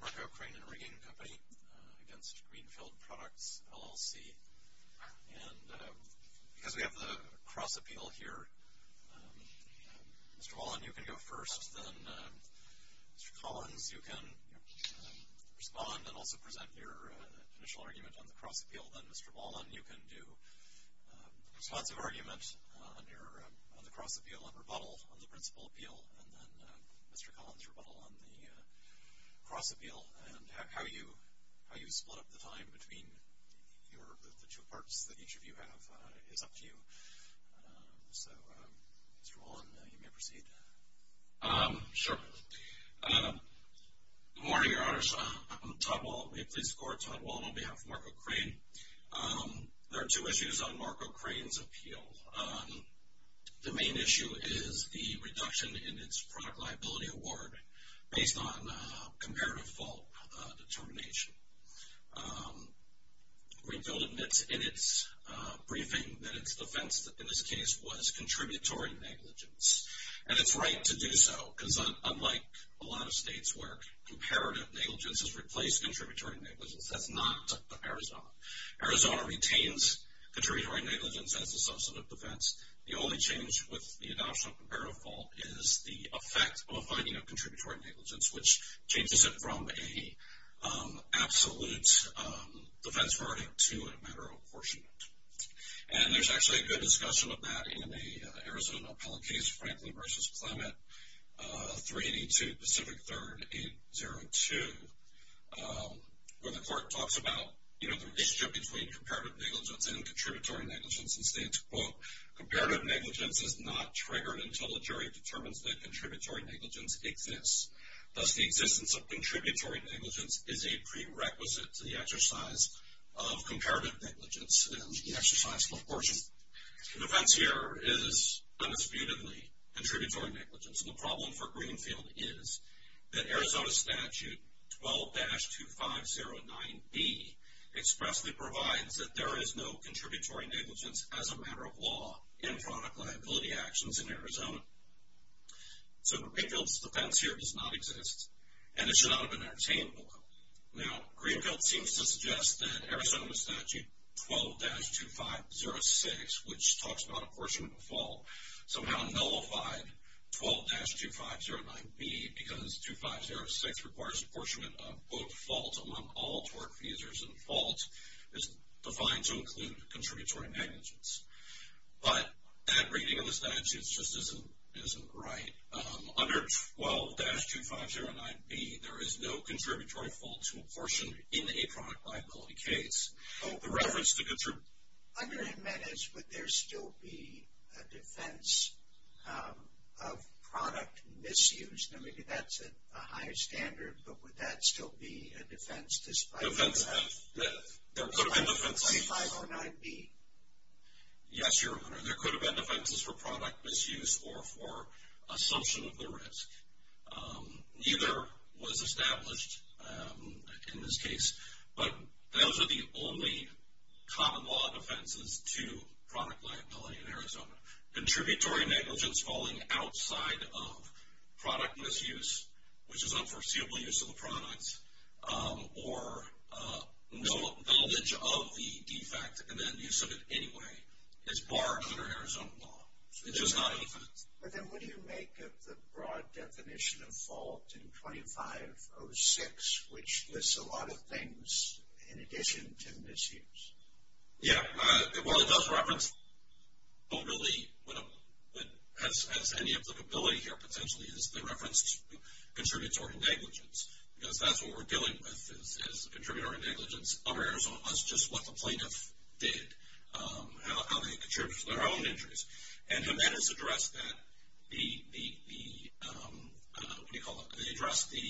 Markov Crane and Rigging Company against Greenfield Products, LLC, and because we have the cross appeal here, Mr. Wallen, you can go first, then Mr. Collins, you can respond and also present your initial argument on the cross appeal, then Mr. Wallen, you can do a responsive argument on the cross appeal and rebuttal on the principal appeal, and then Mr. Collins, your rebuttal on the cross appeal, and how you split up the time between the two parts that each of you have is up to you, so Mr. Wallen, you may proceed. Sure. Good morning, Your Honors. I'm Todd Wallen. May it please the Court? Todd Wallen on behalf of Markov Crane. There are two issues on Markov Crane's appeal. The main issue is the reduction in its product liability award based on comparative fault determination. Greenfield admits in its briefing that its defense in this case was contributory negligence, and it's right to do so, because unlike a lot of states where comparative negligence has replaced contributory negligence, that's not Arizona. Arizona retains contributory negligence as a substantive defense. The only change with the adoption of comparative fault is the effect of a finding of contributory negligence, which changes it from an absolute defense verdict to a matter of apportionment. And there's actually a good discussion of that in the Arizona appellate case, Franklin v. Clement, 382 Pacific 3rd 802, where the court talks about the relationship between comparative negligence and contributory negligence and states, quote, comparative negligence is not triggered until the jury determines that contributory negligence exists. Thus, the existence of contributory negligence is a prerequisite to the exercise of comparative negligence and the exercise of apportionment. The defense here is undisputedly contributory negligence, and the problem for Greenfield is that Arizona statute 12-2509B expressly provides that there is no contributory negligence as a matter of law in fraud and liability actions in Arizona. So Greenfield's defense here does not exist, and it should not have been entertained. Now, Greenfield seems to suggest that Arizona statute 12-2506, which talks about apportionment of fault, somehow nullified 12-2509B because 2506 requires apportionment of, quote, fault among all tort feasors, and fault is defined to include contributory negligence. But that reading of the statute just isn't right. Under 12-2509B, there is no contributory fault to apportion in a product liability case. The reference to contributory negligence, but there still be a defense of product misuse? Now, maybe that's a high standard, but would that still be a defense despite the fact that there could have been defenses for 2509B? Yes, Your Honor. There could have been defenses for product misuse or for assumption of the risk. Neither was established in this case, but those are the only common law defenses to product liability in Arizona. Contributory negligence falling outside of product misuse, which is unforeseeable use of the product, or no knowledge of the defect and then use of it anyway is barred under Arizona law. It's just not a defense. But then what do you make of the broad definition of fault in 2506, which lists a lot of things in addition to misuse? Yeah, well, it does reference, but really, as any applicability here, potentially, is the reference to contributory negligence. Because that's what we're dealing with, is contributory negligence over Arizona. That's just what the plaintiff did, how they contributed to their own injuries. And Jimenez addressed that, what do you call it? He addressed the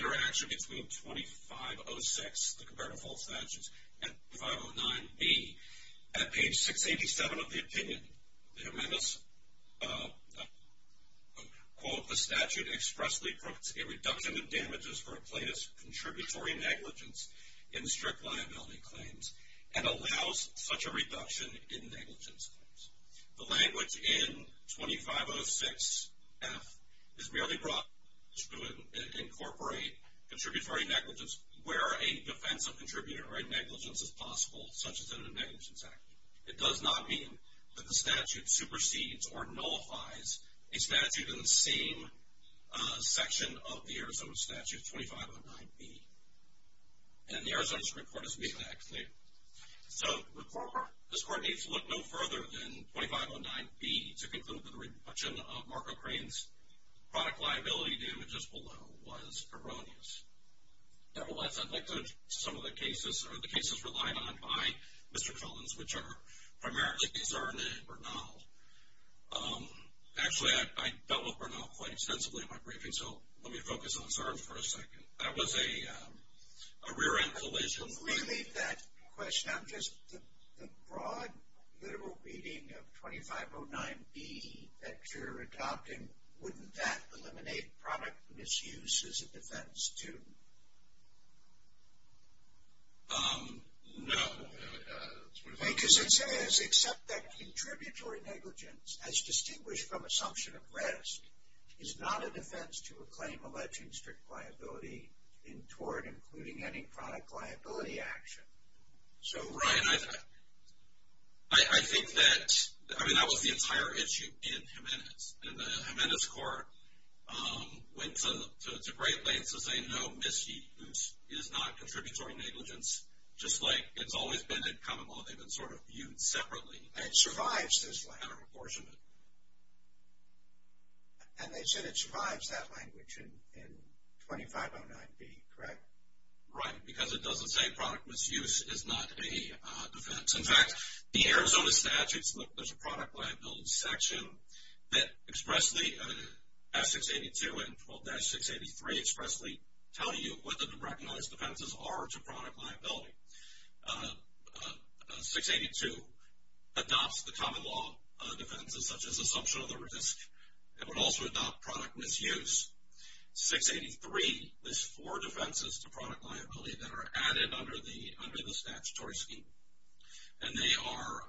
interaction between 2506, the comparative fault statutes, and 2509B. At page 687 of the opinion, Jimenez quote, the statute expressly puts a reduction in damages for a plaintiff's contributory negligence in strict liability claims, and allows such a reduction in negligence claims. The language in 2506F is merely brought to incorporate contributory negligence where a defense of contributory negligence is possible, such as in a negligence act. It does not mean that the statute supersedes or nullifies a statute in the same section of the Arizona statute, 2509B. And the Arizona Supreme Court has made that clear. So, the court needs to look no further than 2509B to conclude that the reduction of Marco Crain's product liability damages below was erroneous. Nevertheless, I'd like to, some of the cases, or the cases relied on by Mr. Collins, which are primarily concerned in Bernal. Actually, I dealt with Bernal quite extensively in my briefing, so let me focus on Sarge for a second. That was a rear-end collision. Really, that question, I'm just, the broad literal reading of 2509B that you're adopting, wouldn't that eliminate product misuse as a defense, too? No. Because it says, except that contributory negligence, as distinguished from assumption of rest, is not a defense to a claim alleging strict liability toward including any product liability action. So, Ryan, I think that, I mean, that was the entire issue in Jimenez. And the Jimenez court went to great lengths to say, no, misuse is not contributory negligence, just like it's always been in common law. They've been sort of viewed separately. And it survives this language. Out of apportionment. And they said it survives that language in 2509B, correct? Right, because it doesn't say product misuse is not a defense. In fact, the Arizona statutes, look, there's a product liability section that expressly, S-682 and 12-683 expressly tell you what the recognized defenses are to product liability. 682 adopts the common law defenses, such as assumption of the risk. It would also adopt product misuse. 683 lists four defenses to product liability that are added under the statutory scheme. And they are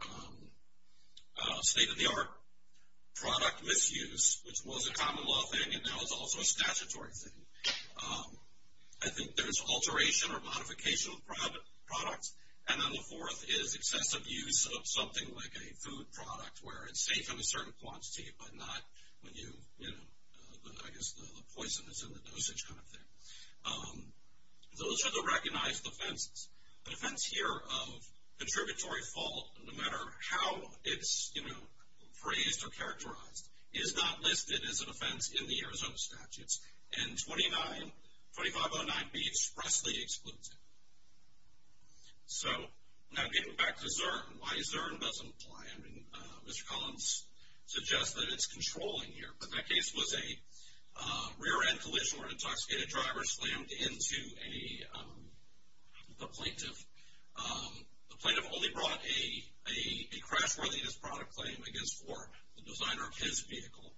state-of-the-art product misuse, which was a common law thing, and now is also a statutory thing. I think there's alteration or modification of products. And then the fourth is excessive use of something like a food product where it's safe to consume a certain quantity, but not when you, you know, I guess the poison that's in the dosage kind of thing. Those are the recognized defenses. The defense here of contributory fault, no matter how it's, you know, phrased or characterized, is not listed as a defense in the Arizona statutes. And 2509B expressly excludes it. So, now getting back to Zurn and why Zurn doesn't apply. Mr. Collins suggests that it's controlling here. But that case was a rear-end collision where an intoxicated driver slammed into a plaintiff. The plaintiff only brought a crash-worthiness product claim against Ford, the designer of his vehicle.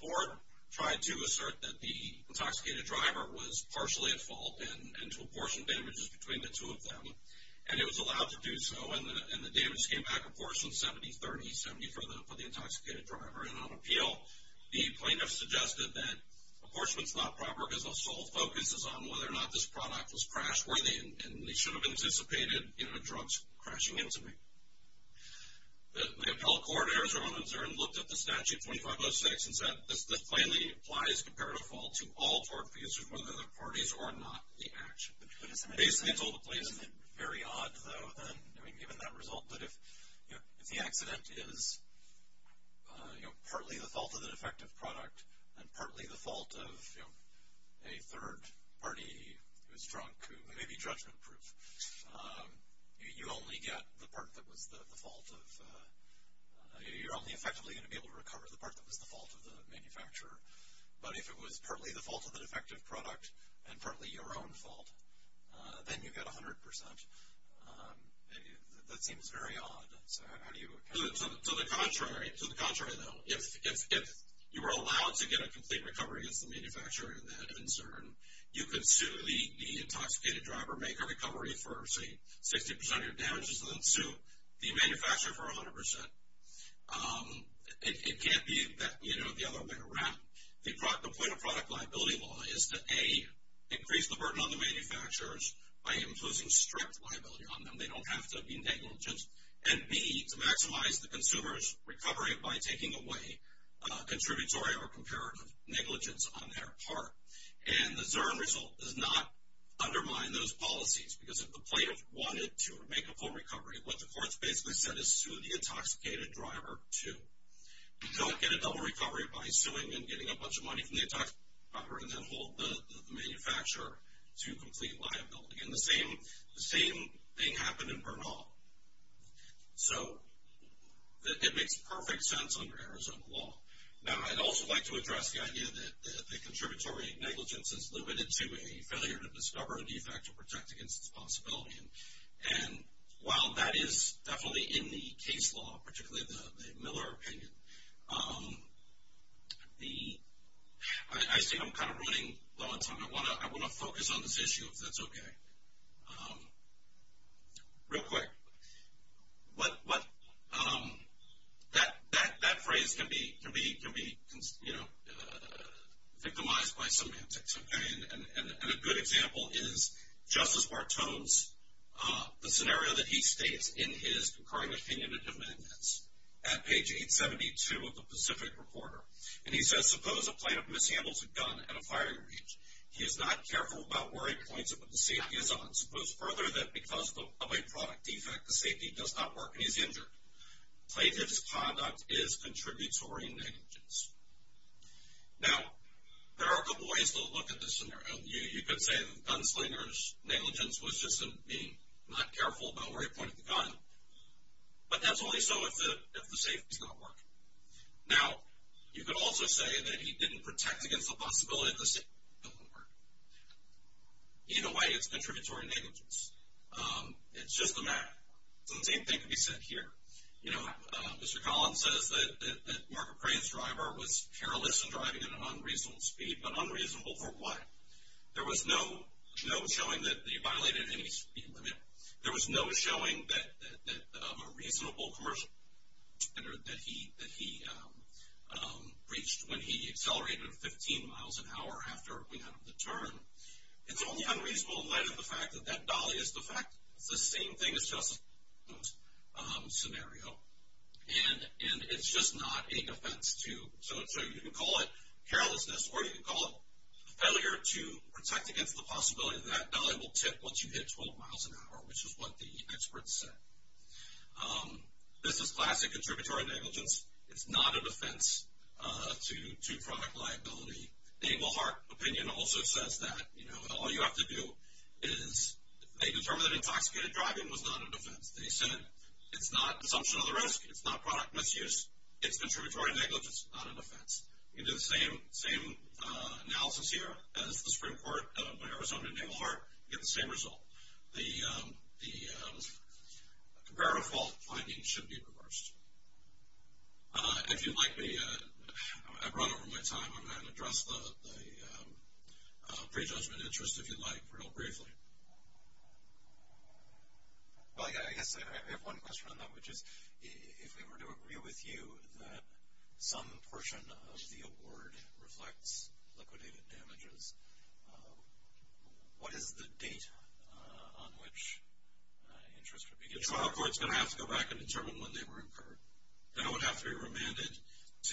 Ford tried to assert that the intoxicated driver was partially at fault and to apportion damages between the two of them. And it was allowed to do so. And the damages came back apportioned 70-30-70 for the intoxicated driver. And on appeal, the plaintiff suggested that apportionment's not proper because the sole focus is on whether or not this product was crash-worthy and they should have anticipated, you know, drugs crashing into me. The appellate court, Arizona Zurn, looked at the statute 2506 and said, this plainly applies comparative fault to all Ford vehicles whether they're parties or not in the action. Basically, it's all the place. Isn't it very odd, though, then, I mean, given that result, that if, you know, if the accident is, you know, partly the fault of the defective product and partly the fault of, you know, a third party who's drunk who may be judgment-proof, you only get the part that was the fault of, you're only effectively going to be able to recover the part that was the fault of the manufacturer. But if it was partly the fault of the defective product and partly your own fault, then you get 100%. That seems very odd. So how do you account for that? To the contrary, to the contrary, though. If you were allowed to get a complete recovery against the manufacturer in that concern, you could sue the intoxicated driver, make a recovery for, say, 60% of your damages, and then sue the manufacturer for 100%. It can't be, you know, the other way around. The point of product liability law is to, A, increase the burden on the manufacturers by imposing strict liability on them. They don't have to be negligent. And, B, to maximize the consumer's recovery by taking away contributory or comparative negligence on their part. And the Zurn result does not undermine those policies because if the plaintiff wanted to make a full recovery, what the court's basically said is sue the intoxicated driver to get a double recovery by suing and getting a bunch of money from the intoxicated driver and then hold the manufacturer to complete liability. And the same thing happened in Bernal. So it makes perfect sense under Arizona law. Now, I'd also like to address the idea that the contributory negligence is limited to a failure to discover a defect or protect against its possibility. And while that is definitely in the case law, particularly the Miller opinion, I think I'm kind of running low on time. I want to focus on this issue, if that's okay. Real quick, that phrase can be, you know, victimized by semantics. And a good example is Justice Bartone's, the scenario that he states in his concurring opinion and amendments at page 872 of the Pacific Reporter. And he says, suppose a plaintiff mishandles a gun at a firing range. He is not careful about where he points it when the safety is on. Suppose further that because of a product defect, the safety does not work and he's injured. Plaintiff's conduct is contributory negligence. Now, there are a couple ways to look at this scenario. You could say the gunslinger's negligence was just him being not careful about where he pointed the gun. But that's only so if the safety's not working. Now, you could also say that he didn't protect against the possibility of the safety not working. In a way, it's contributory negligence. It's just a matter. It's the same thing to be said here. You know, Mr. Collins says that Mark McRae's driver was careless in driving at an unreasonable speed. But unreasonable for what? There was no showing that he violated any speed limit. There was no showing that a reasonable commercial that he reached when he accelerated 15 miles an hour after we had the turn. It's only unreasonable in light of the fact that that dolly is defective. It's the same thing as Justin's scenario. And it's just not a defense to... So you can call it carelessness or you can call it failure to protect against the possibility of that dolly will tip once you hit 12 miles an hour, which is what the experts said. This is classic contributory negligence. It's not a defense to product liability. The Naval Heart opinion also says that all you have to do is... They determined that intoxicated driving was not a defense. They said it's not an assumption of the risk. It's not product misuse. It's contributory negligence. It's not a defense. You can do the same analysis here as the Supreme Court by Arizona and Naval Heart and get the same result. The comparative fault finding should be reversed. If you'd like me... I've run over my time. I'm going to address the prejudgment interest, if you'd like, real briefly. I guess I have one question on that, which is if we were to agree with you that some portion of the award reflects liquidated damages, what is the date on which interest would be given? The trial court is going to have to go back and determine when they were incurred. That would have to be remanded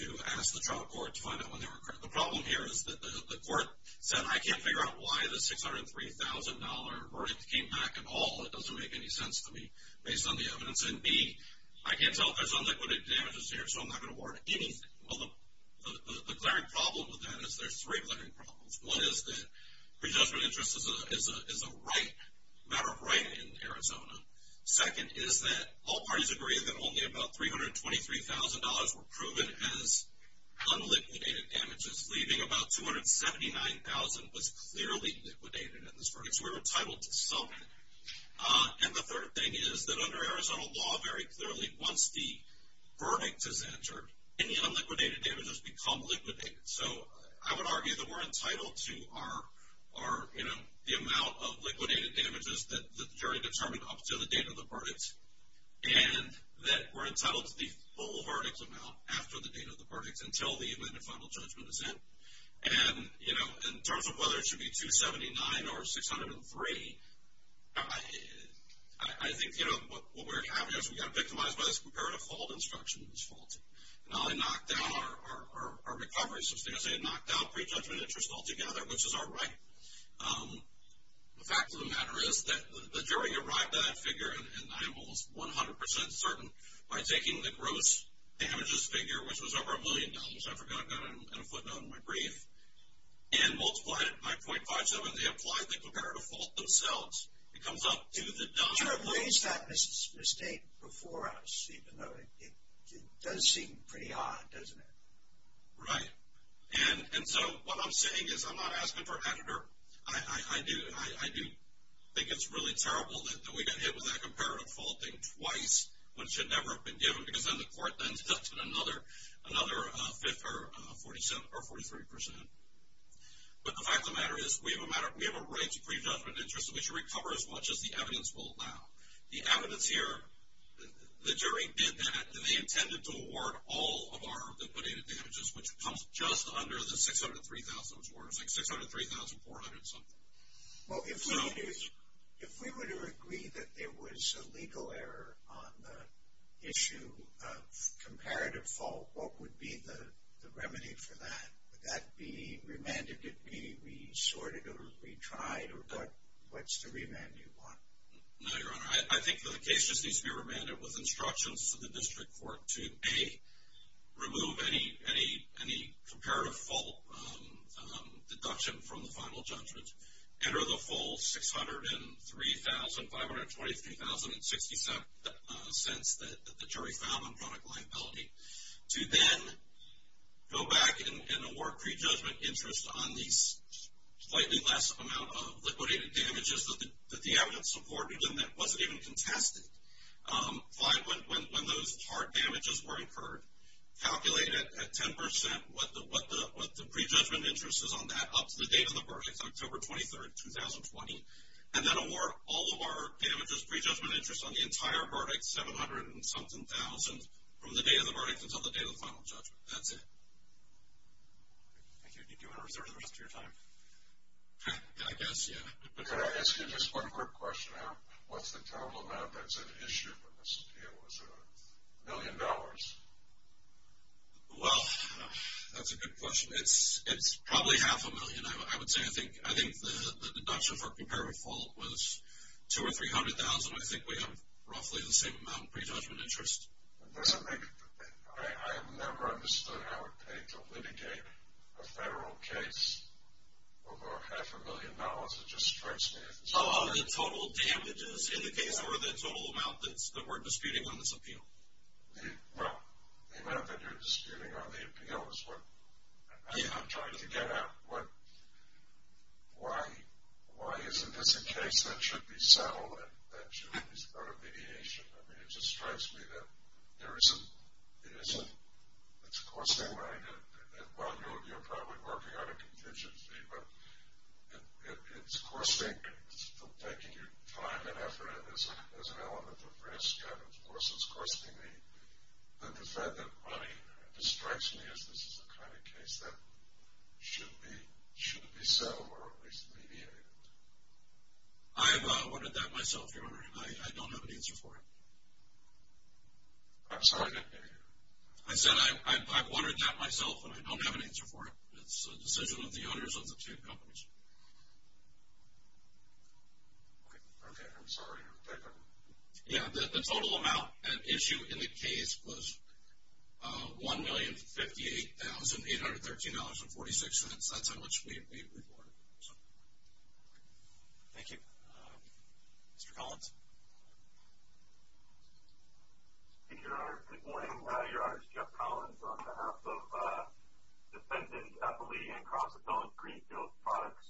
to ask the trial court to find out when they were incurred. The problem here is that the court said, I can't figure out why the $603,000 verdict came back at all. It doesn't make any sense to me based on the evidence. And B, I can't tell if there's unliquidated damages here, so I'm not going to award anything. Well, the glaring problem with that is there's three glaring problems. One is that prejudgment interest is a matter of right in Arizona. Second is that all parties agree that only about $323,000 were proven as unliquidated damages, leaving about $279,000 was clearly liquidated in this verdict, so we were entitled to some. And the third thing is that under Arizona law, very clearly, once the verdict is entered, any unliquidated damages become liquidated. I would argue that we're entitled to the amount of liquidated damages that the jury determined up to the date of the verdict, and that we're entitled to the full verdict amount after the date of the verdict until the event of final judgment is in. And in terms of whether it should be $279,000 or $603,000, I think what we're having is we got victimized by this comparative fault instruction that was faulty. Now they knocked down our recovery system. They knocked down prejudgment interest altogether, which is our right. The fact of the matter is that the jury arrived at that figure, and I am almost 100% certain, by taking the gross damages figure, which was over a million dollars. I forgot I've got it in a footnote in my brief, and multiplied it by .57. They applied the comparative fault themselves. It comes up to the dollar. The jury placed that mistake before us, even though it does seem pretty odd, doesn't it? Right. And so what I'm saying is I'm not asking for agitator. I do think it's really terrible that we got hit with that comparative fault thing twice, which should never have been given, because then the court then deducted another 5th or 43%. But the fact of the matter is we have a right to prejudgment interest, and we should recover as much as the evidence will allow. The evidence here, the jury did that. They intended to award all of our liquidated damages, which comes just under the 603,000. It was like 603,400 something. If we were to agree that there was a legal error on the issue of comparative fault, what would be the remedy for that? Would that be remanded? Would it be resorted or retried? What's the remand you want? No, Your Honor. I think the case just needs to be remanded with instructions to the district court to, A, remove any comparative fault deduction from the final judgment, enter the full 603,000, 523,067 cents that the jury found on product liability, to then go back and award prejudgment interest on the slightly less amount of liquidated damages that the evidence supported and that wasn't even contested. Five, when those hard damages were incurred, calculate at 10% what the prejudgment interest is on that up to the date of the verdict, October 23rd, 2020, and then award all of our damages prejudgment interest on the entire verdict, 770,000 from the day of the verdict until the day of the final judgment. That's it. Do you want to reserve the rest of your time? I guess, yeah. Can I ask you just one quick question? What's the total amount that's at issue for this appeal? Is it a million dollars? Well, that's a good question. It's probably half a million, I would say. I think the deduction for comparative fault was 200,000 or 300,000. I think we have roughly the same amount of prejudgment interest. I have never understood how it paid to litigate a federal case over half a million dollars. It just strikes me as- The total damages in the case or the total amount that we're disputing on this appeal? Well, the amount that you're disputing on the appeal is what I'm trying to get at. Why isn't this a case that should be settled and that should be part of mediation? I mean, it just strikes me that there isn't- It isn't. It's costing money. Well, you're probably working on a contingency, but it's costing- It's taking your time and effort. There's an element of risk, and of course, it's costing the defendant money. It just strikes me as this is the kind of case that should be settled or at least mediated. I've wondered that myself, Your Honor. I don't have an answer for it. I'm sorry? I said I've wondered that myself, and I don't have an answer for it. It's a decision of the owners of the two companies. Okay, I'm sorry. Yeah, the total amount at issue in the case was $1,058,813.46. That's how much we reported. Thank you. Mr. Collins? Thank you, Your Honor. Good morning. Your Honor, it's Jeff Collins on behalf of Defendant Eppley and Cross Appellant Greenfield Products.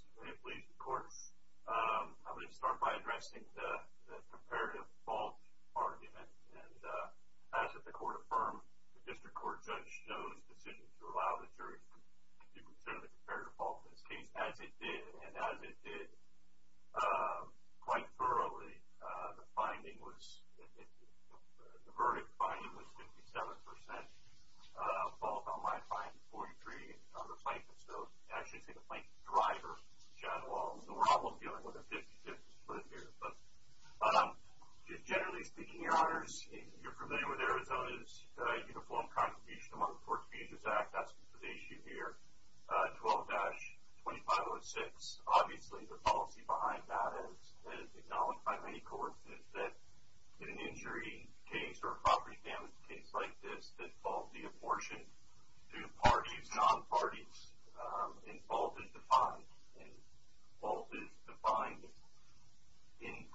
I'm going to start by addressing the comparative fault argument. As the court affirmed, the district court judge chose the decision to allow the jury to consider the comparative fault in this case. As it did, and as it did quite thoroughly, the verdict finding was 57% fault on my finding, 43% on the plaintiff's note. Actually, it's the plaintiff's driver, John Walls. We're almost dealing with a 50-50 split here. Generally speaking, Your Honors, you're familiar with Arizona's Uniform Contradiction Among the Court's Agencies Act. That's the issue here. 12-2506. Obviously, the policy behind that, as acknowledged by many courts, is that in an injury case or a property damage case like this, that fault be apportioned to parties, non-parties, and fault is defined in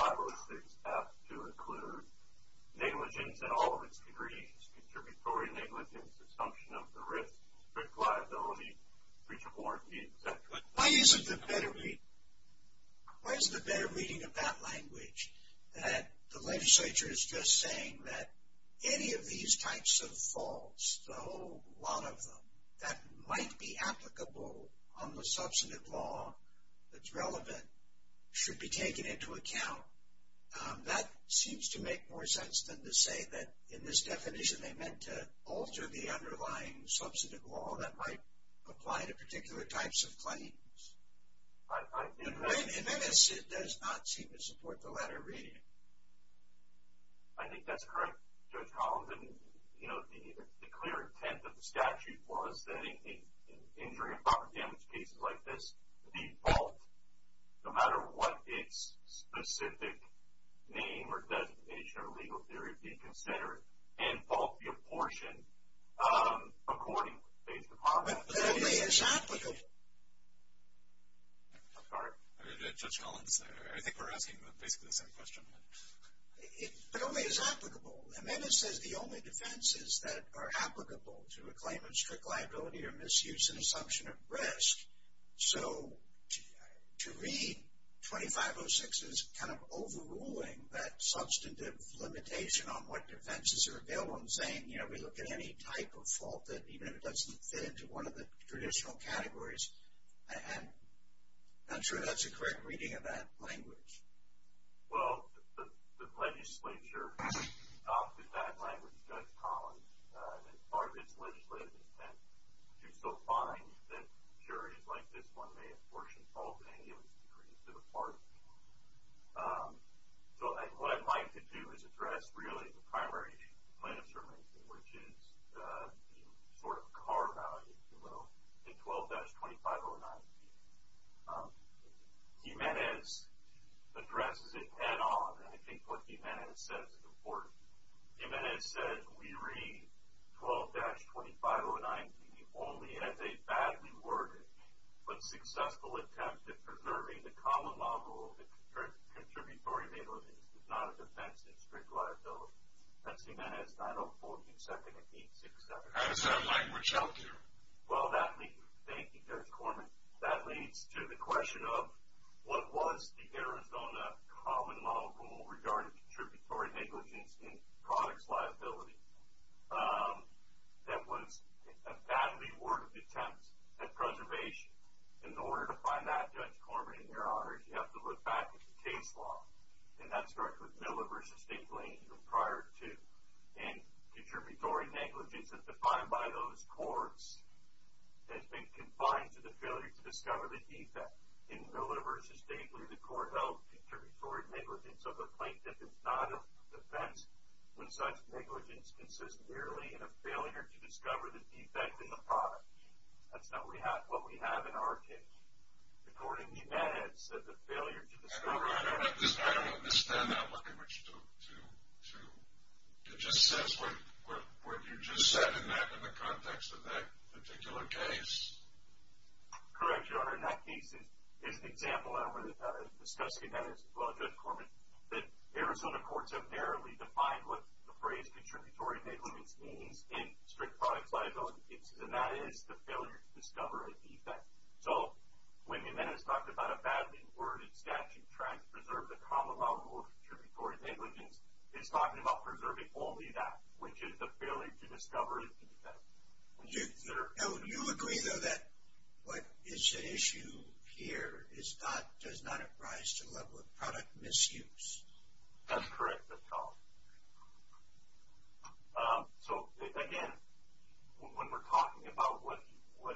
12-2506 as to include negligence in all of its degrees, contributory negligence, consumption of the risk, strict liability, breach of warranty, etc. Why isn't there better reading of that language? That the legislature is just saying that any of these types of faults, the whole lot of them, that might be applicable on the substantive law that's relevant should be taken into account. That seems to make more sense than to say that in this definition they meant to alter the underlying substantive law that might apply to particular types of claims. In this, it does not seem to support the latter reading. I think that's correct, Judge Collins. The clear intent of the statute was that in injury and property damage cases like this, the fault, no matter what its specific name or designation or legal theory, should be considered and fault be apportioned according to these requirements. But it only is applicable. I'm sorry. Judge Collins, I think we're asking basically the same question. It only is applicable. The amendment says the only defenses that are applicable to a claim of strict liability are misuse and assumption of risk. So, to read 2506 as kind of overruling that substantive limitation on what defenses are available and saying, you know, we look at any type of fault, even if it doesn't fit into one of the traditional categories, I'm not sure that's a correct reading of that language. Well, the legislature adopted that language, Judge Collins, as part of its legislative intent to so find that injuries like this one may apportion fault in any of its degrees to the parties. So, what I'd like to do is address really the primary claim of certainty, which is the sort of car value below in 12-2509. Jimenez addresses it head on, and I think what Jimenez says is important. Jimenez said, we read 12-2509 only as a badly worded, but successful attempt at preserving the common law rule that contributory negligence is not a defense of strict liability. That's Jimenez 904-22-1867. How does that language help you? Well, that leads, thank you, Judge Corman, that leads to the question of what was the Arizona common law rule regarding contributory negligence in products liability that was a badly worded attempt at preservation. In order to find that, Judge Corman, in your honor, you have to look back at the case law. And that starts with Miller v. Dinkley, even prior to. And contributory negligence is defined by those courts as being confined to the failure to discover the defect. In Miller v. Dinkley, the court held contributory negligence of the plaintiff is not a defense when such negligence consists merely in a failure to discover the defect in the product. That's not what we have in our case. According to Jimenez, the failure to discover the defect in the product. I don't understand that language. It just says what you just said in the context of that particular case. Correct, your honor. In that case, it is an example, and we're discussing that as well, Judge Corman, that Arizona courts have narrowly defined what the phrase contributory negligence means in strict products liability cases. And that is the failure to discover a defect. So when Jimenez talked about a badly worded statute trying to preserve the common law rule of contributory negligence, he's talking about preserving only that, which is the failure to discover the defect. Do you agree, though, that what is at issue here is not, does not apprise to the level of product misuse? That's correct at all. So again, when we're talking about what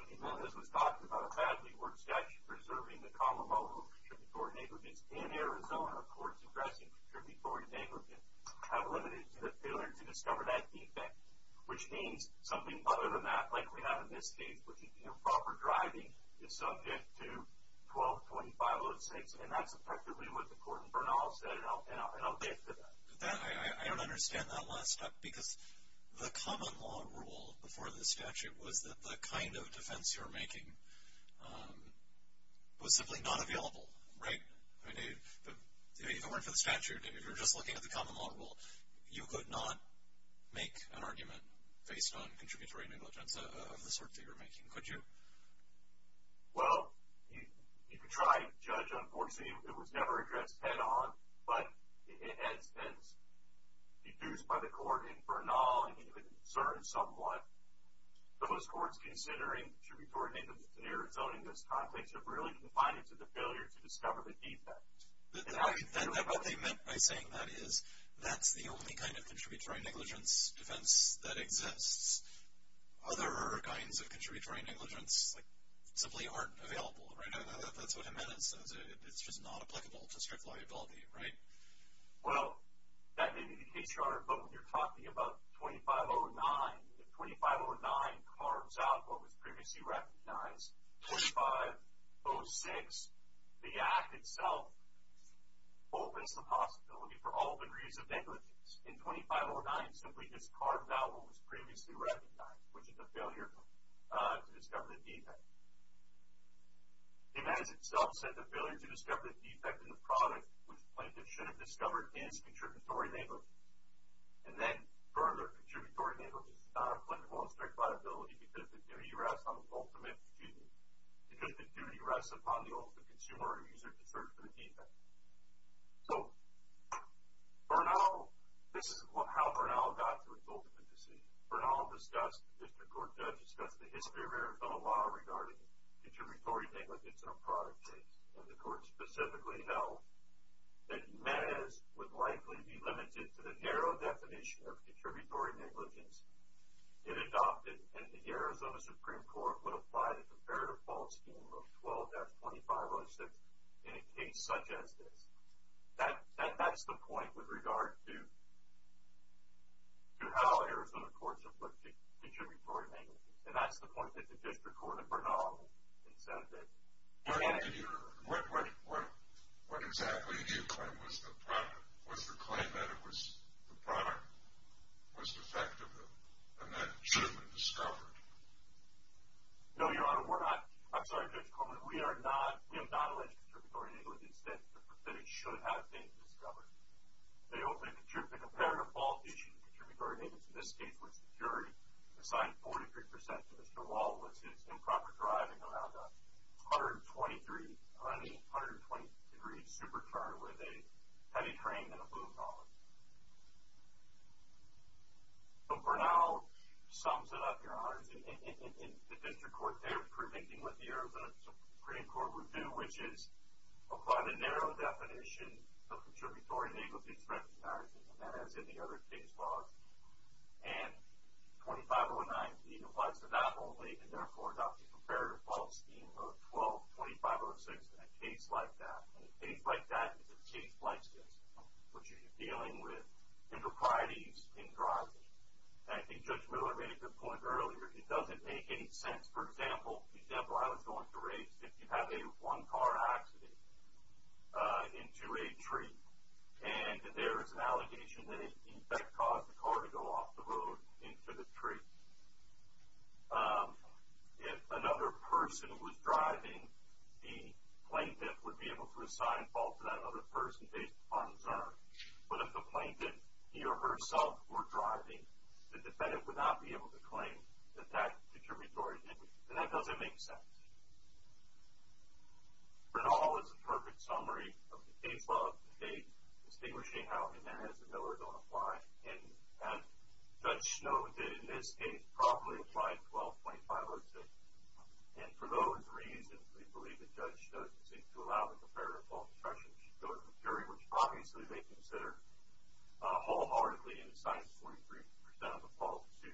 Jimenez was talking about, a badly worded statute preserving the common law rule of contributory negligence in Arizona courts addressing contributory negligence have limited to the failure to discover that defect, which means something other than that, like we have in this case, which is improper driving is subject to 1225-06. And that's effectively what the court in Bernal said, and I'll get to that. I don't understand that last step, because the common law rule before the statute was that the kind of defense you were making was simply not available, right? If it weren't for the statute, if you were just looking at the common law rule, you could not make an argument based on contributory negligence, of the sort that you were making, could you? Well, you could try and judge, unfortunately, it was never addressed head-on, but it has been deduced by the court in Bernal, and you could discern somewhat. Those courts considering contributory negligence in Arizona in this context have really confined it to the failure to discover the defect. What they meant by saying that is, that's the only kind of contributory negligence defense that exists. Other kinds of contributory negligence simply aren't available, right? That's what Jimenez says, it's just not applicable to strict liability, right? Well, that may be the case, Your Honor, but when you're talking about 2509, if 2509 carves out what was previously recognized, 2506, the act itself opens the possibility for all degrees of negligence. In 2509, it simply just carves out what was previously recognized, which is the failure to discover the defect. Jimenez himself said the failure to discover the defect in the product, which plaintiffs should have discovered, is contributory negligence. And then further, contributory negligence is not applicable in strict liability because the duty rests upon the ultimate consumer or user to search for the defect. So, Bernal, this is how Bernal got to his ultimate decision. Bernal discussed, the district court judge discussed the history of Arizona law regarding contributory negligence in a product case. And the court specifically held that Jimenez would likely be limited to the narrow definition of contributory negligence. It adopted, and the Arizona Supreme Court would apply the comparative fault scheme of 12-2506 in a case such as this. That's the point with regard to how Arizona courts have looked at contributory negligence. And that's the point that the district court of Bernal has said that. Bernal, did you, what, what, what, what exactly do you claim was the product, was the claim that it was the product was defective and that it should have been discovered? No, Your Honor, we're not, I'm sorry Judge Coleman, we are not, we have not alleged contributory negligence that it should have been discovered. The ultimate, the comparative fault issue in contributory negligence in this case was the jury assigned 43% to Mr. Wall, which is improper driving around a 123, 120 degree supercar with a heavy frame and a blue collar. So Bernal sums it up, Your Honor, in the district court they're predicting what the Arizona Supreme Court would do, which is apply the narrow definition of contributory negligence and that is in the other case laws. And 2509B applies to not only, and therefore, adopt the comparative fault scheme of 122506 in a case like that. And a case like that is a case like this, which is dealing with improprieties in driving. And I think Judge Miller made a good point earlier, it doesn't make any sense. For example, the example I was going to raise, if you have a one car accident into a tree, and there is an allegation that it in fact caused the car to go off the road into the tree, if another person was driving, the plaintiff would be able to assign fault to that other person based upon his own. But if the plaintiff, he or herself, were driving, the defendant would not be able to claim that that contributory negligence. And that doesn't make sense. For now, this is a perfect summary of the case law of the day, distinguishing how and when is the Miller going to apply. And as Judge Snow did in this case, probably apply 122506. And for those reasons, we believe that Judge Snow seems to allow the comparative fault discretionary, which obviously they consider wholeheartedly, and assign 43% of the fault to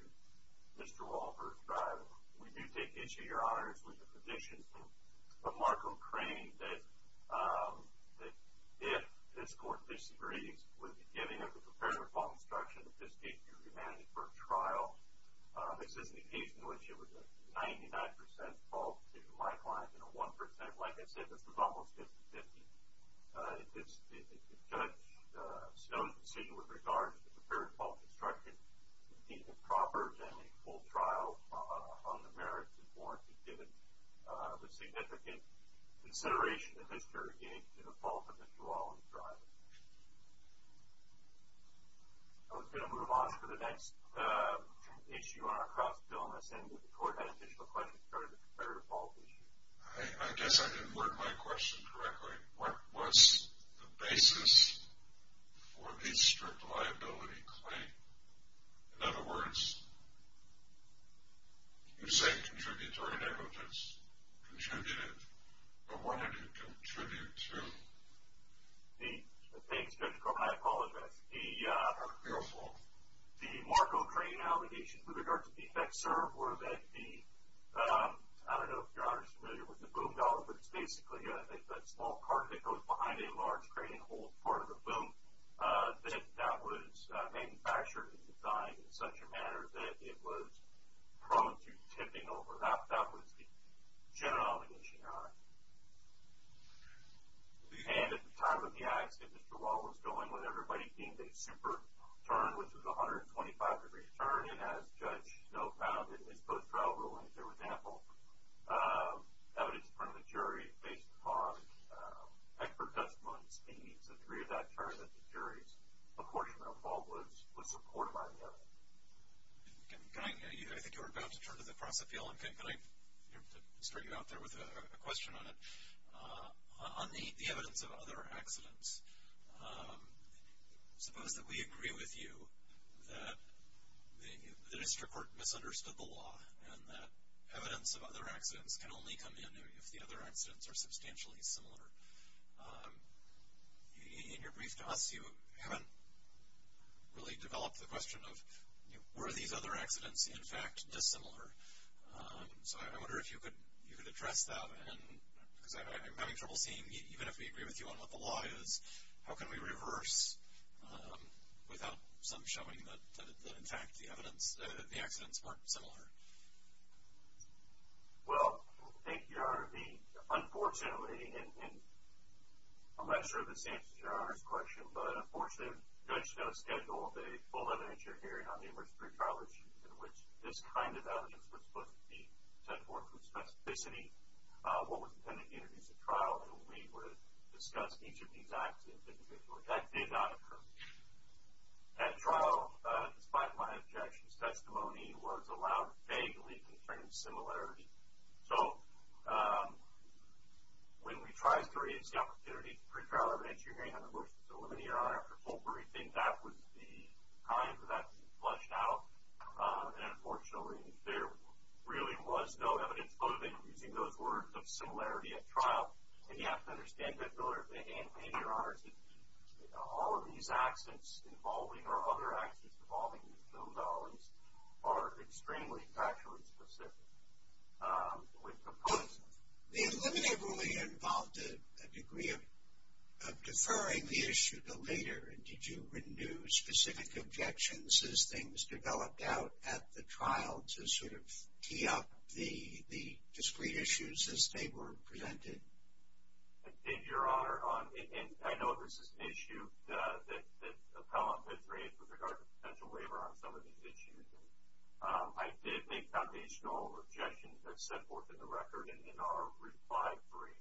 Mr. Walker's driving. We do take issue, Your Honors, with the position of Mark O'Krane that if this Court disagrees with the giving of the comparative fault discretion, that this case be remanded for trial. This is a case in which it was a 99% fault to my client, and a 1%. Like I said, this was almost 50-50. If Judge Snow's decision with regards to the comparative fault discretion is proper, then a full trial on the merits is warranted, given the significant consideration that this Court gave to the fault of Mr. Walker's driving. I was going to move on to the next issue on our cross-bill, and I was saying that the Court had additional questions regarding the comparative fault issue. I guess I didn't word my question correctly. What was the basis for the strict liability claim? In other words, you said contributory negligence contributed, but what did it contribute to? Thanks, Judge Coleman, I apologize. Be careful. The Mark O'Krane allegations with regards to the effect served were that the, I don't know if Your Honor is familiar with the boom dollar, but it's basically a small cart that goes behind a large crate and holds part of the boom. That that was manufactured and designed in such a manner that it was prone to tipping over. That was the general allegation, Your Honor. And at the time of the accident, Mr. Wall was going with everybody being a super turn, which was a 125-degree turn, and as Judge Snow found in his post-trial ruling, for example, evidence from the jury based upon expert testimony and speech, the three of that turned that the jury's apportionment of fault was supported by the evidence. I think you were about to turn to the cross-appeal, and can I start you out there with a question on it? On the evidence of other accidents, suppose that we agree with you that the district court misunderstood the law and that evidence of other accidents can only come in if the other accidents are substantially similar. In your brief to us, you haven't really developed the question of, were these other accidents, in fact, dissimilar? So I wonder if you could address that, because I'm having trouble seeing, even if we agree with you on what the law is, how can we reverse without some showing that, in fact, the evidence of the accidents weren't similar? Well, thank you, Your Honor. Unfortunately, and I'm not sure if this answers Your Honor's question, but unfortunately, Judge Snow scheduled a full evidence-sharing hearing on numerous pre-trial issues in which this kind of evidence was supposed to be set forth with specificity. What was intended to introduce a trial in which we would discuss each of these accidents individually. That did not occur. That trial, despite my objection's testimony, was allowed vaguely constrained similarity. So, when we tried to raise the opportunity for pre-trial evidence, you're hearing on the motion to eliminate, Your Honor, after full briefing, that was the time that that was flushed out. And unfortunately, there really was no evidence of it, using those words of similarity at trial. And you have to understand, Judge Miller, and Your Honor, that all of these accidents involving, or other accidents involving the Snow Dollars, are extremely factually specific with comparison. The eliminated ruling involved a degree of deferring the issue to later. And did you renew specific objections as things developed out at the trial to sort of tee up the discrete issues as they were presented? I did, Your Honor. And I know this is an issue that appellant has raised with regard to potential waiver on some of these issues. I did make foundational objections as set forth in the record and in our reply brief,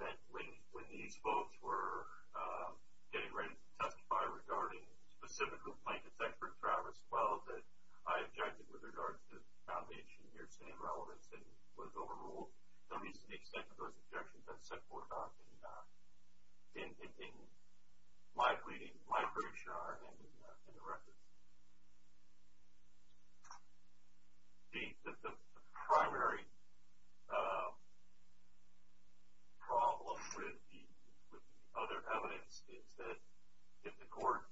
that when these folks were getting ready to testify regarding specifically plaintiff's expert, Travis, well, that I objected with regard to the foundation of your same relevance that was overruled. So, at least to the extent of those objections, that's set forth in my brief, Your Honor, and in the record. The primary problem with the other evidence is that if the court,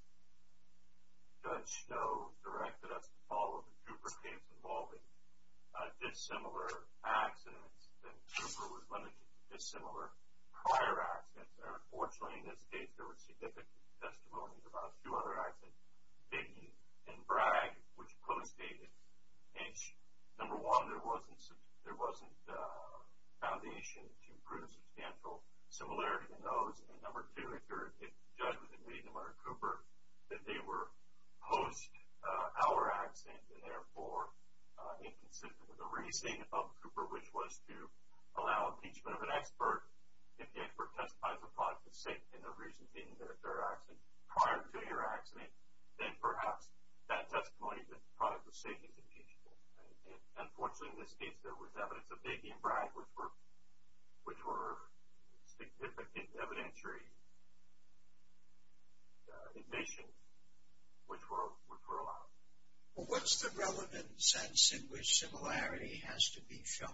Judge Snow, directed us to follow up a Cooper case involving dissimilar accidents, then Cooper was limited to dissimilar prior accidents. Unfortunately, in this case, there were significant testimonies about two other accidents, Biggie and Bragg, which co-stated, number one, there wasn't foundation to prove substantial similarity in those. And number two, if the judge was admitting to Cooper that they were post-hour accidents and, therefore, inconsistent with the reasoning of Cooper, which was to allow impeachment of an expert, if the expert testifies the product of safety in the reasons in their third accident prior to your accident, then perhaps that testimony, that the product of safety is impeachable. And, unfortunately, in this case, there was evidence of Biggie and Bragg, which were significant evidentiary indications which were allowed. Well, what's the relevant sense in which similarity has to be shown?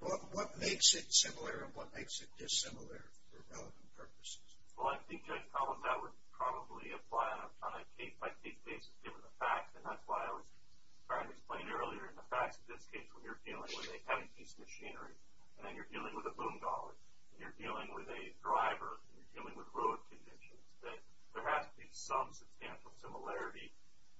What makes it similar and what makes it dissimilar for relevant purposes? Well, I think, Judge Collins, that would probably apply on a case-by-case basis given the facts, and that's why I was trying to explain earlier in the facts of this case, when you're dealing with a heavy piece of machinery, and then you're dealing with a boom dolly, and you're dealing with a driver, and you're dealing with road conditions, that there has to be some substantial similarity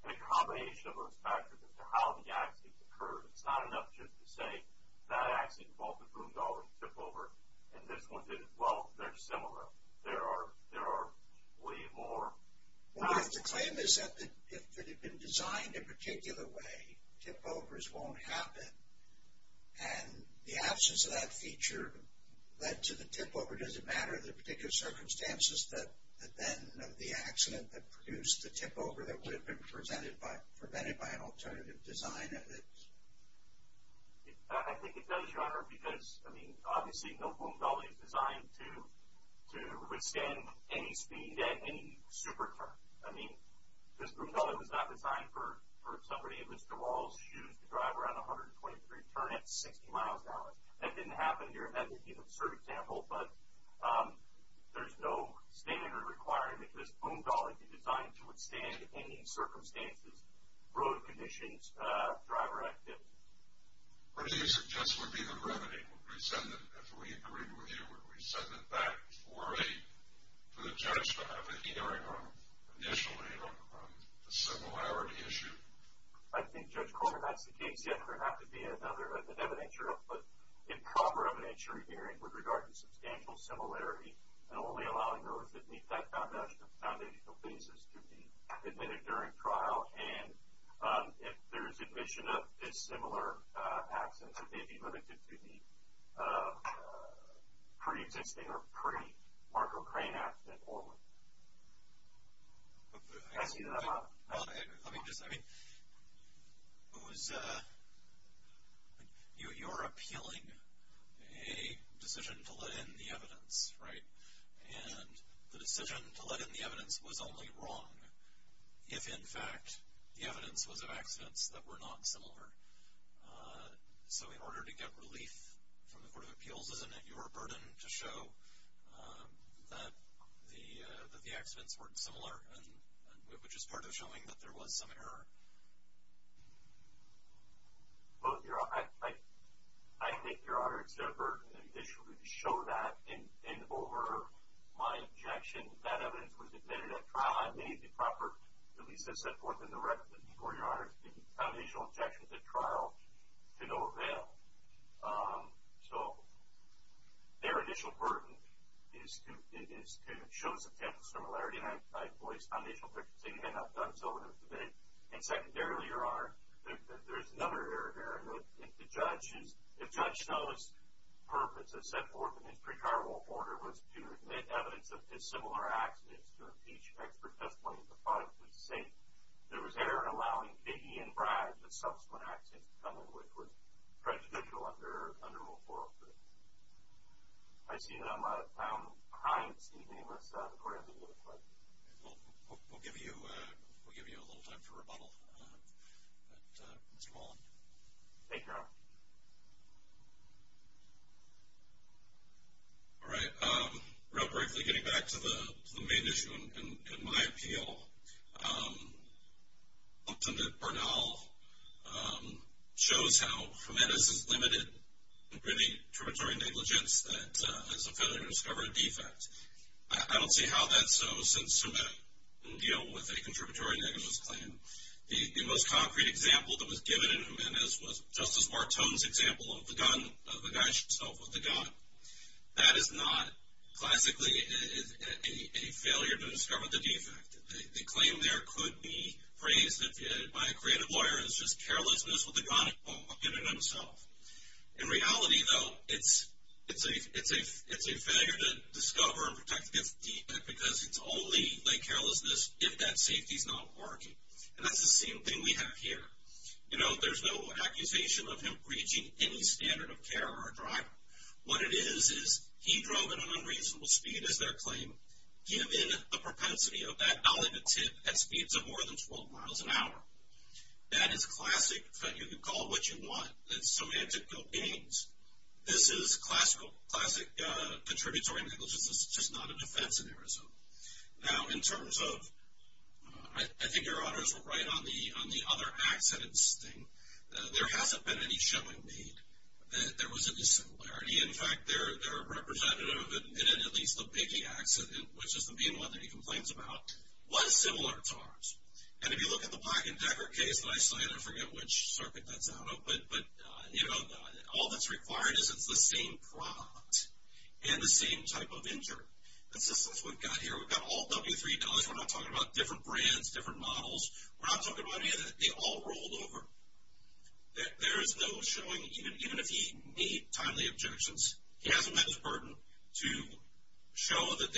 and a combination of those factors as to how the accidents occurred. It's not enough just to say that accident involved a boom dolly tip-over, and this one didn't. Well, they're similar. There are way more. Well, if the claim is that if it had been designed in a particular way, tip-overs won't happen, and the absence of that feature led to the tip-over, does it matter the particular circumstances that then of the accident that produced the tip-over that would have been prevented by an alternative design of it? I think it does, Your Honor, because, I mean, obviously, no boom dolly is designed to withstand any speed at any supercar. I mean, this boom dolly was not designed for somebody in Mr. Wall's shoes to drive around a 123 turn at 60 miles an hour. That didn't happen here. That would be an absurd example, but there's no standard requirement that this boom dolly be designed to withstand any circumstances, road conditions, driver activity. What do you suggest would be the remedy? Would we send it, if we agreed with you, would we send it back for the judge to have an hearing on, initially, on the similarity issue? I think, Judge Coleman, that's the case. Yes, there would have to be another, an evidentiary, but improper evidentiary hearing with regard to substantial similarity and only allowing those that meet that foundational basis to be admitted during trial. And if there's admission of a similar accident, it may be limited to the pre-existing or pre-Marco Crane accident only. I see that a lot. Let me just, I mean, it was, you're appealing a decision to let in the evidence, right? And the decision to let in the evidence was only wrong if, in fact, the evidence was of accidents that were not similar. So in order to get relief from the Court of Appeals, isn't it your burden to show that the accidents weren't similar, which is part of showing that there was some error? Well, I think, Your Honor, it's their burden initially to show that. And over my objection, that evidence was admitted at trial. I made the proper, at least as set forth in the record before, Your Honor, the foundational objections at trial to no avail. So their initial burden is to show substantial similarity. And I voiced foundational objections. They may not have done so in the debate. And secondarily, Your Honor, there is another area of error. The judge's, the judge's purpose as set forth in his pre-trial order was to admit evidence of dissimilar accidents to impeach expert testimony that the product was the same. There was error in allowing KB and Brad and subsequent accidents to come in which was prejudicial under Rule 403. I see that I'm out of time. Does anyone else have a question? We'll give you a little time to rebuttal. Mr. Mullen. Thank you, Your Honor. All right. Real briefly, getting back to the main issue and my appeal. I'm hoping that Bernal shows how Jimenez's limited and pretty contributory negligence that is a failure to discover a defect. I don't see how that's so since somebody can deal with a contributory negligence claim. The most concrete example that was given in Jimenez was Justice Bartone's example of the gun, of the guy himself with the gun. That is not classically a failure to discover the defect. The claim there could be phrased by a creative lawyer as just carelessness with the gun in and of itself. In reality, though, it's a failure to discover and protect against a defect because it's only carelessness if that safety's not working. That's the same thing we have here. There's no accusation of him breaching any standard of care or driver. What it is, is he drove at an unreasonable speed is their claim given the propensity of that elegant tip at speeds of more than 12 miles an hour. That is classic. You can call it what you want. It's semantical games. This is classic contributory negligence. It's just not a defense in Arizona. Now, in terms of I think your honors were right on the other accidents thing. There hasn't been any showing made that there was a dissimilarity. In fact, their representative admitted at least the Biggie accident which is the mean one that he complains about was similar to ours. And if you look at the Black and Decker case in Iceland, I forget which circuit that's out of, but all that's required is it's the same prop and the same type of injury. That's what we've got here. We've got all W3 dollars. We're not talking about different brands, different models. We're not talking about any of that. They all rolled over. There is no showing even if he made timely objections. He hasn't met his burden to show that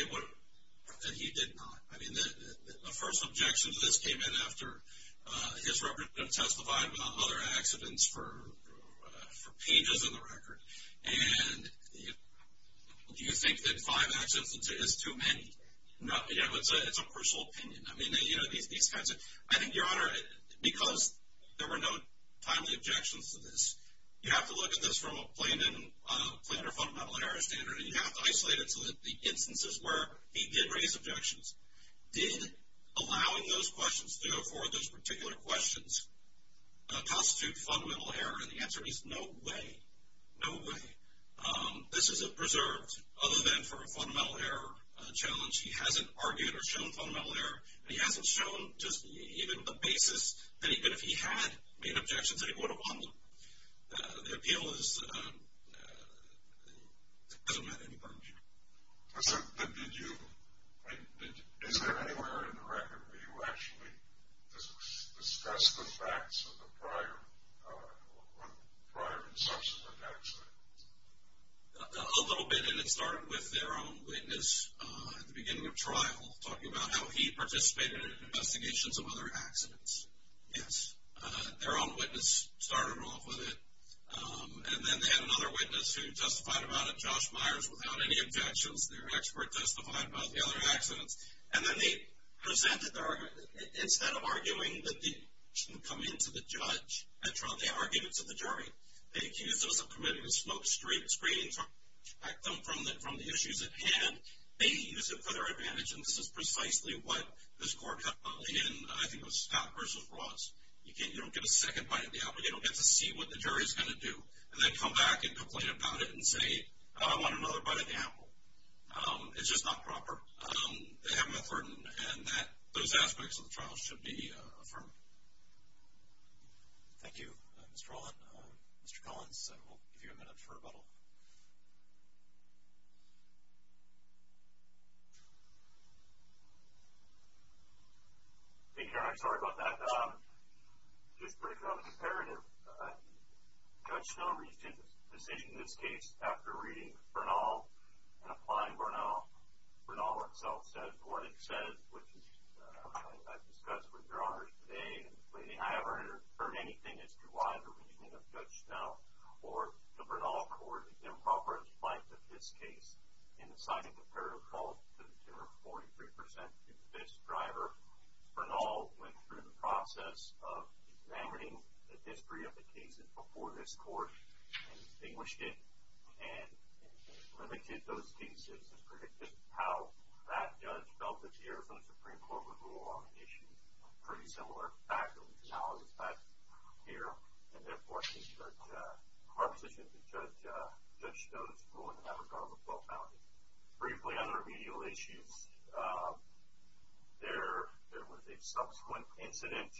he did not. The first objection to this came in after his representative testified about other accidents for pages of the record. And do you think that five accidents is too many? It's a personal opinion. I think your honor, because there were no timely objections to this, you have to look at this from a plain or fundamental error standard and you have to isolate it so that the instances where he did raise objections did, allowing those questions to go forward, those particular questions constitute fundamental error and the answer is no way. No way. This is a preserved, other than for a fundamental error challenge, he hasn't argued or shown fundamental error and he hasn't shown just even the basis that even if he had made objections, he would have won them. The appeal is he hasn't met any burden. Is there anywhere in the record where you actually discussed the facts of the prior or prior and subsequent accidents? A little bit and it started with their own witness at the beginning of trial talking about how he participated in investigations of other accidents. Yes. Their own witness started off with it and then they had another witness who justified about it, Josh Myers, without any objections, their expert justified about the other accidents and then they presented their argument instead of arguing that the shouldn't come into the judge at trial, they argued it to the jury. They accused us of committing a smokescreen from the issues at hand, they used it for their advantage and this is precisely what this court held in, I think it was Scott v. Ross. You don't get a second bite of the apple, you don't get to see what the jury is going to do and then come back and complain about it and say, I want another bite of the apple. It's just not proper. They haven't met burden and those aspects of the trial should be affirmed. Thank you, Mr. Rolland. Mr. Collins, I will give you a minute for rebuttal. Hey, Karen, I'm sorry about that. Just breaking on the comparative, Judge Snow reached a decision in this case after reading Bernal and applying Bernal. Bernal itself said what it said, which I discussed with your honors today. I haven't heard anything as to why the reasoning of Judge Snow or the Bernal Court improper in spite of this case in assigning comparative fault to the jury of 43% to this driver. Bernal went through the process of examining the history of the cases before this court and distinguished it and limited those cases and predicted how that judge felt that the Arizona Supreme Court would rule on the issue. Pretty similar fact analysis back here and therefore our position is that Judge Snow's ruling in that regard was well-founded. Briefly on the remedial issues, there was a subsequent incident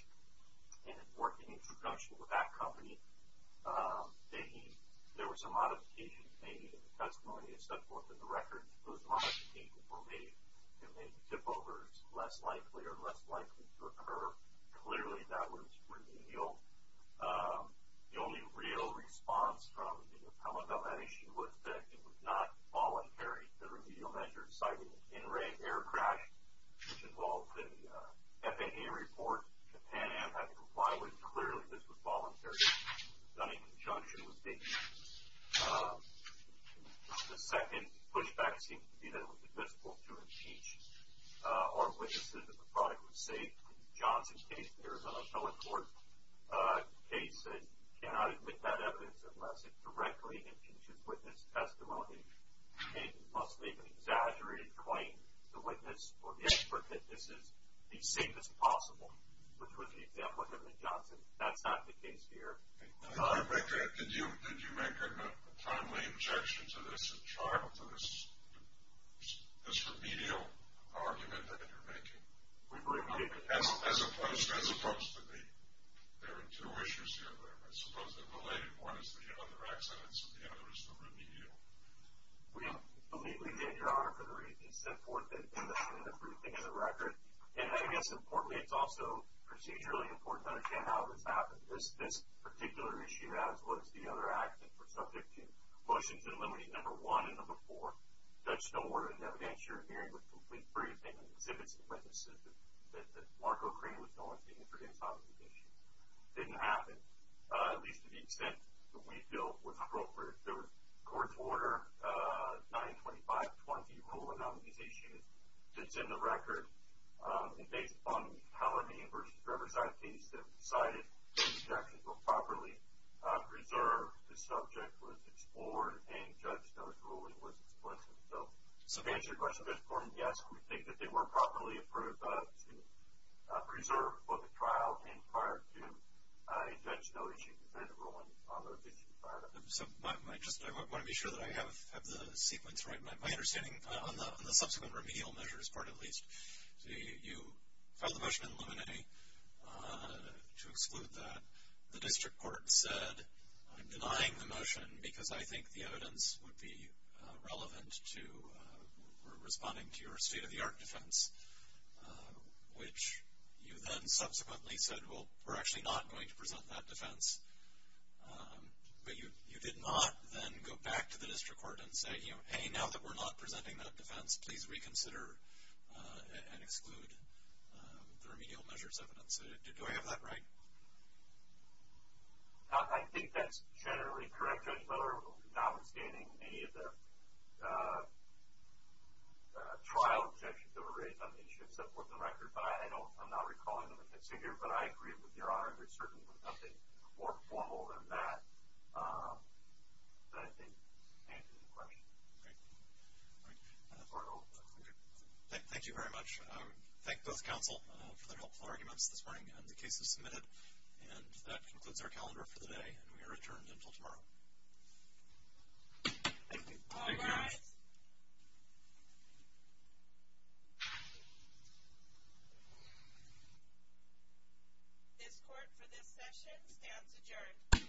in working in conjunction with that company making, there were some modifications made in the testimony and so forth in the record. Those modifications were made to make tip-overs less likely or less likely to occur. Clearly, that was remedial. The only real response from the appellate on that issue was that it was not voluntary. The remedial measure cited an in-ring air crash which involved an FAA report that Pan Am had to comply with. Clearly, this was voluntary. It was done in conjunction with the second pushback seemed to be that it was admissible to impeach our witnesses if the product was safe. In Johnson's case, the Arizona Appellate Court case said you cannot admit that evidence unless it directly impeaches witness testimony. It must be an exaggerated claim to witness or the expert that this is the safest possible which was the example of Edwin Johnson. That's not the case here. Did you make a timely objection to this in charge of this remedial argument that you're making? As opposed to the two issues I suppose they're related more to the other accidents and the other remedial. We believe we did, Your Honor, for the reason set forth in the briefing and the record. And I guess importantly, it's also procedurally important to understand how this happened. This particular issue as well as the other accidents were subject to motions eliminating number one and number four, Judge Stoneward and evidence you're hearing with complete briefing and exhibits of witnesses that Mark O'Krane was known to introduce on this issue. It didn't happen. At least to the extent that we feel was appropriate. There was court's order 925-20 Rule of Nominization that's in the record. And based upon Halloran v. Riverside case that decided the objections were properly preserved, the subject was explored and Judge Stoneward ruling was explicit. So to answer your question, yes, we think that they were properly approved to preserve both the trial and prior to Judge Stoneward's ruling on those issues prior to that. I just want to be sure that I have the sequence right. My understanding on the subsequent remedial measures part at least you filed the motion to eliminate to exclude that. The district court said, I'm denying the motion because I think the evidence would be relevant to responding to your state-of-the-art defense. Which you then subsequently said, well, we're actually not going to present that defense. But you did not then go back to the district court and say hey, now that we're not presenting that defense please reconsider and exclude the remedial measures evidence. Do I have that right? I think that's generally correct, Judge Miller. Notwithstanding any of the trial objections that were raised on these issues that I've put on the record, but I'm not recalling them and can't see here, but I agree with your Honor that there's certainly nothing more formal than that that I think answers the question. Thank you very much. Thank both counsel for their helpful arguments this morning on the cases submitted. And that concludes our calendar for the day. And we are adjourned until tomorrow. Thank you. All rise. This court for this session stands adjourned.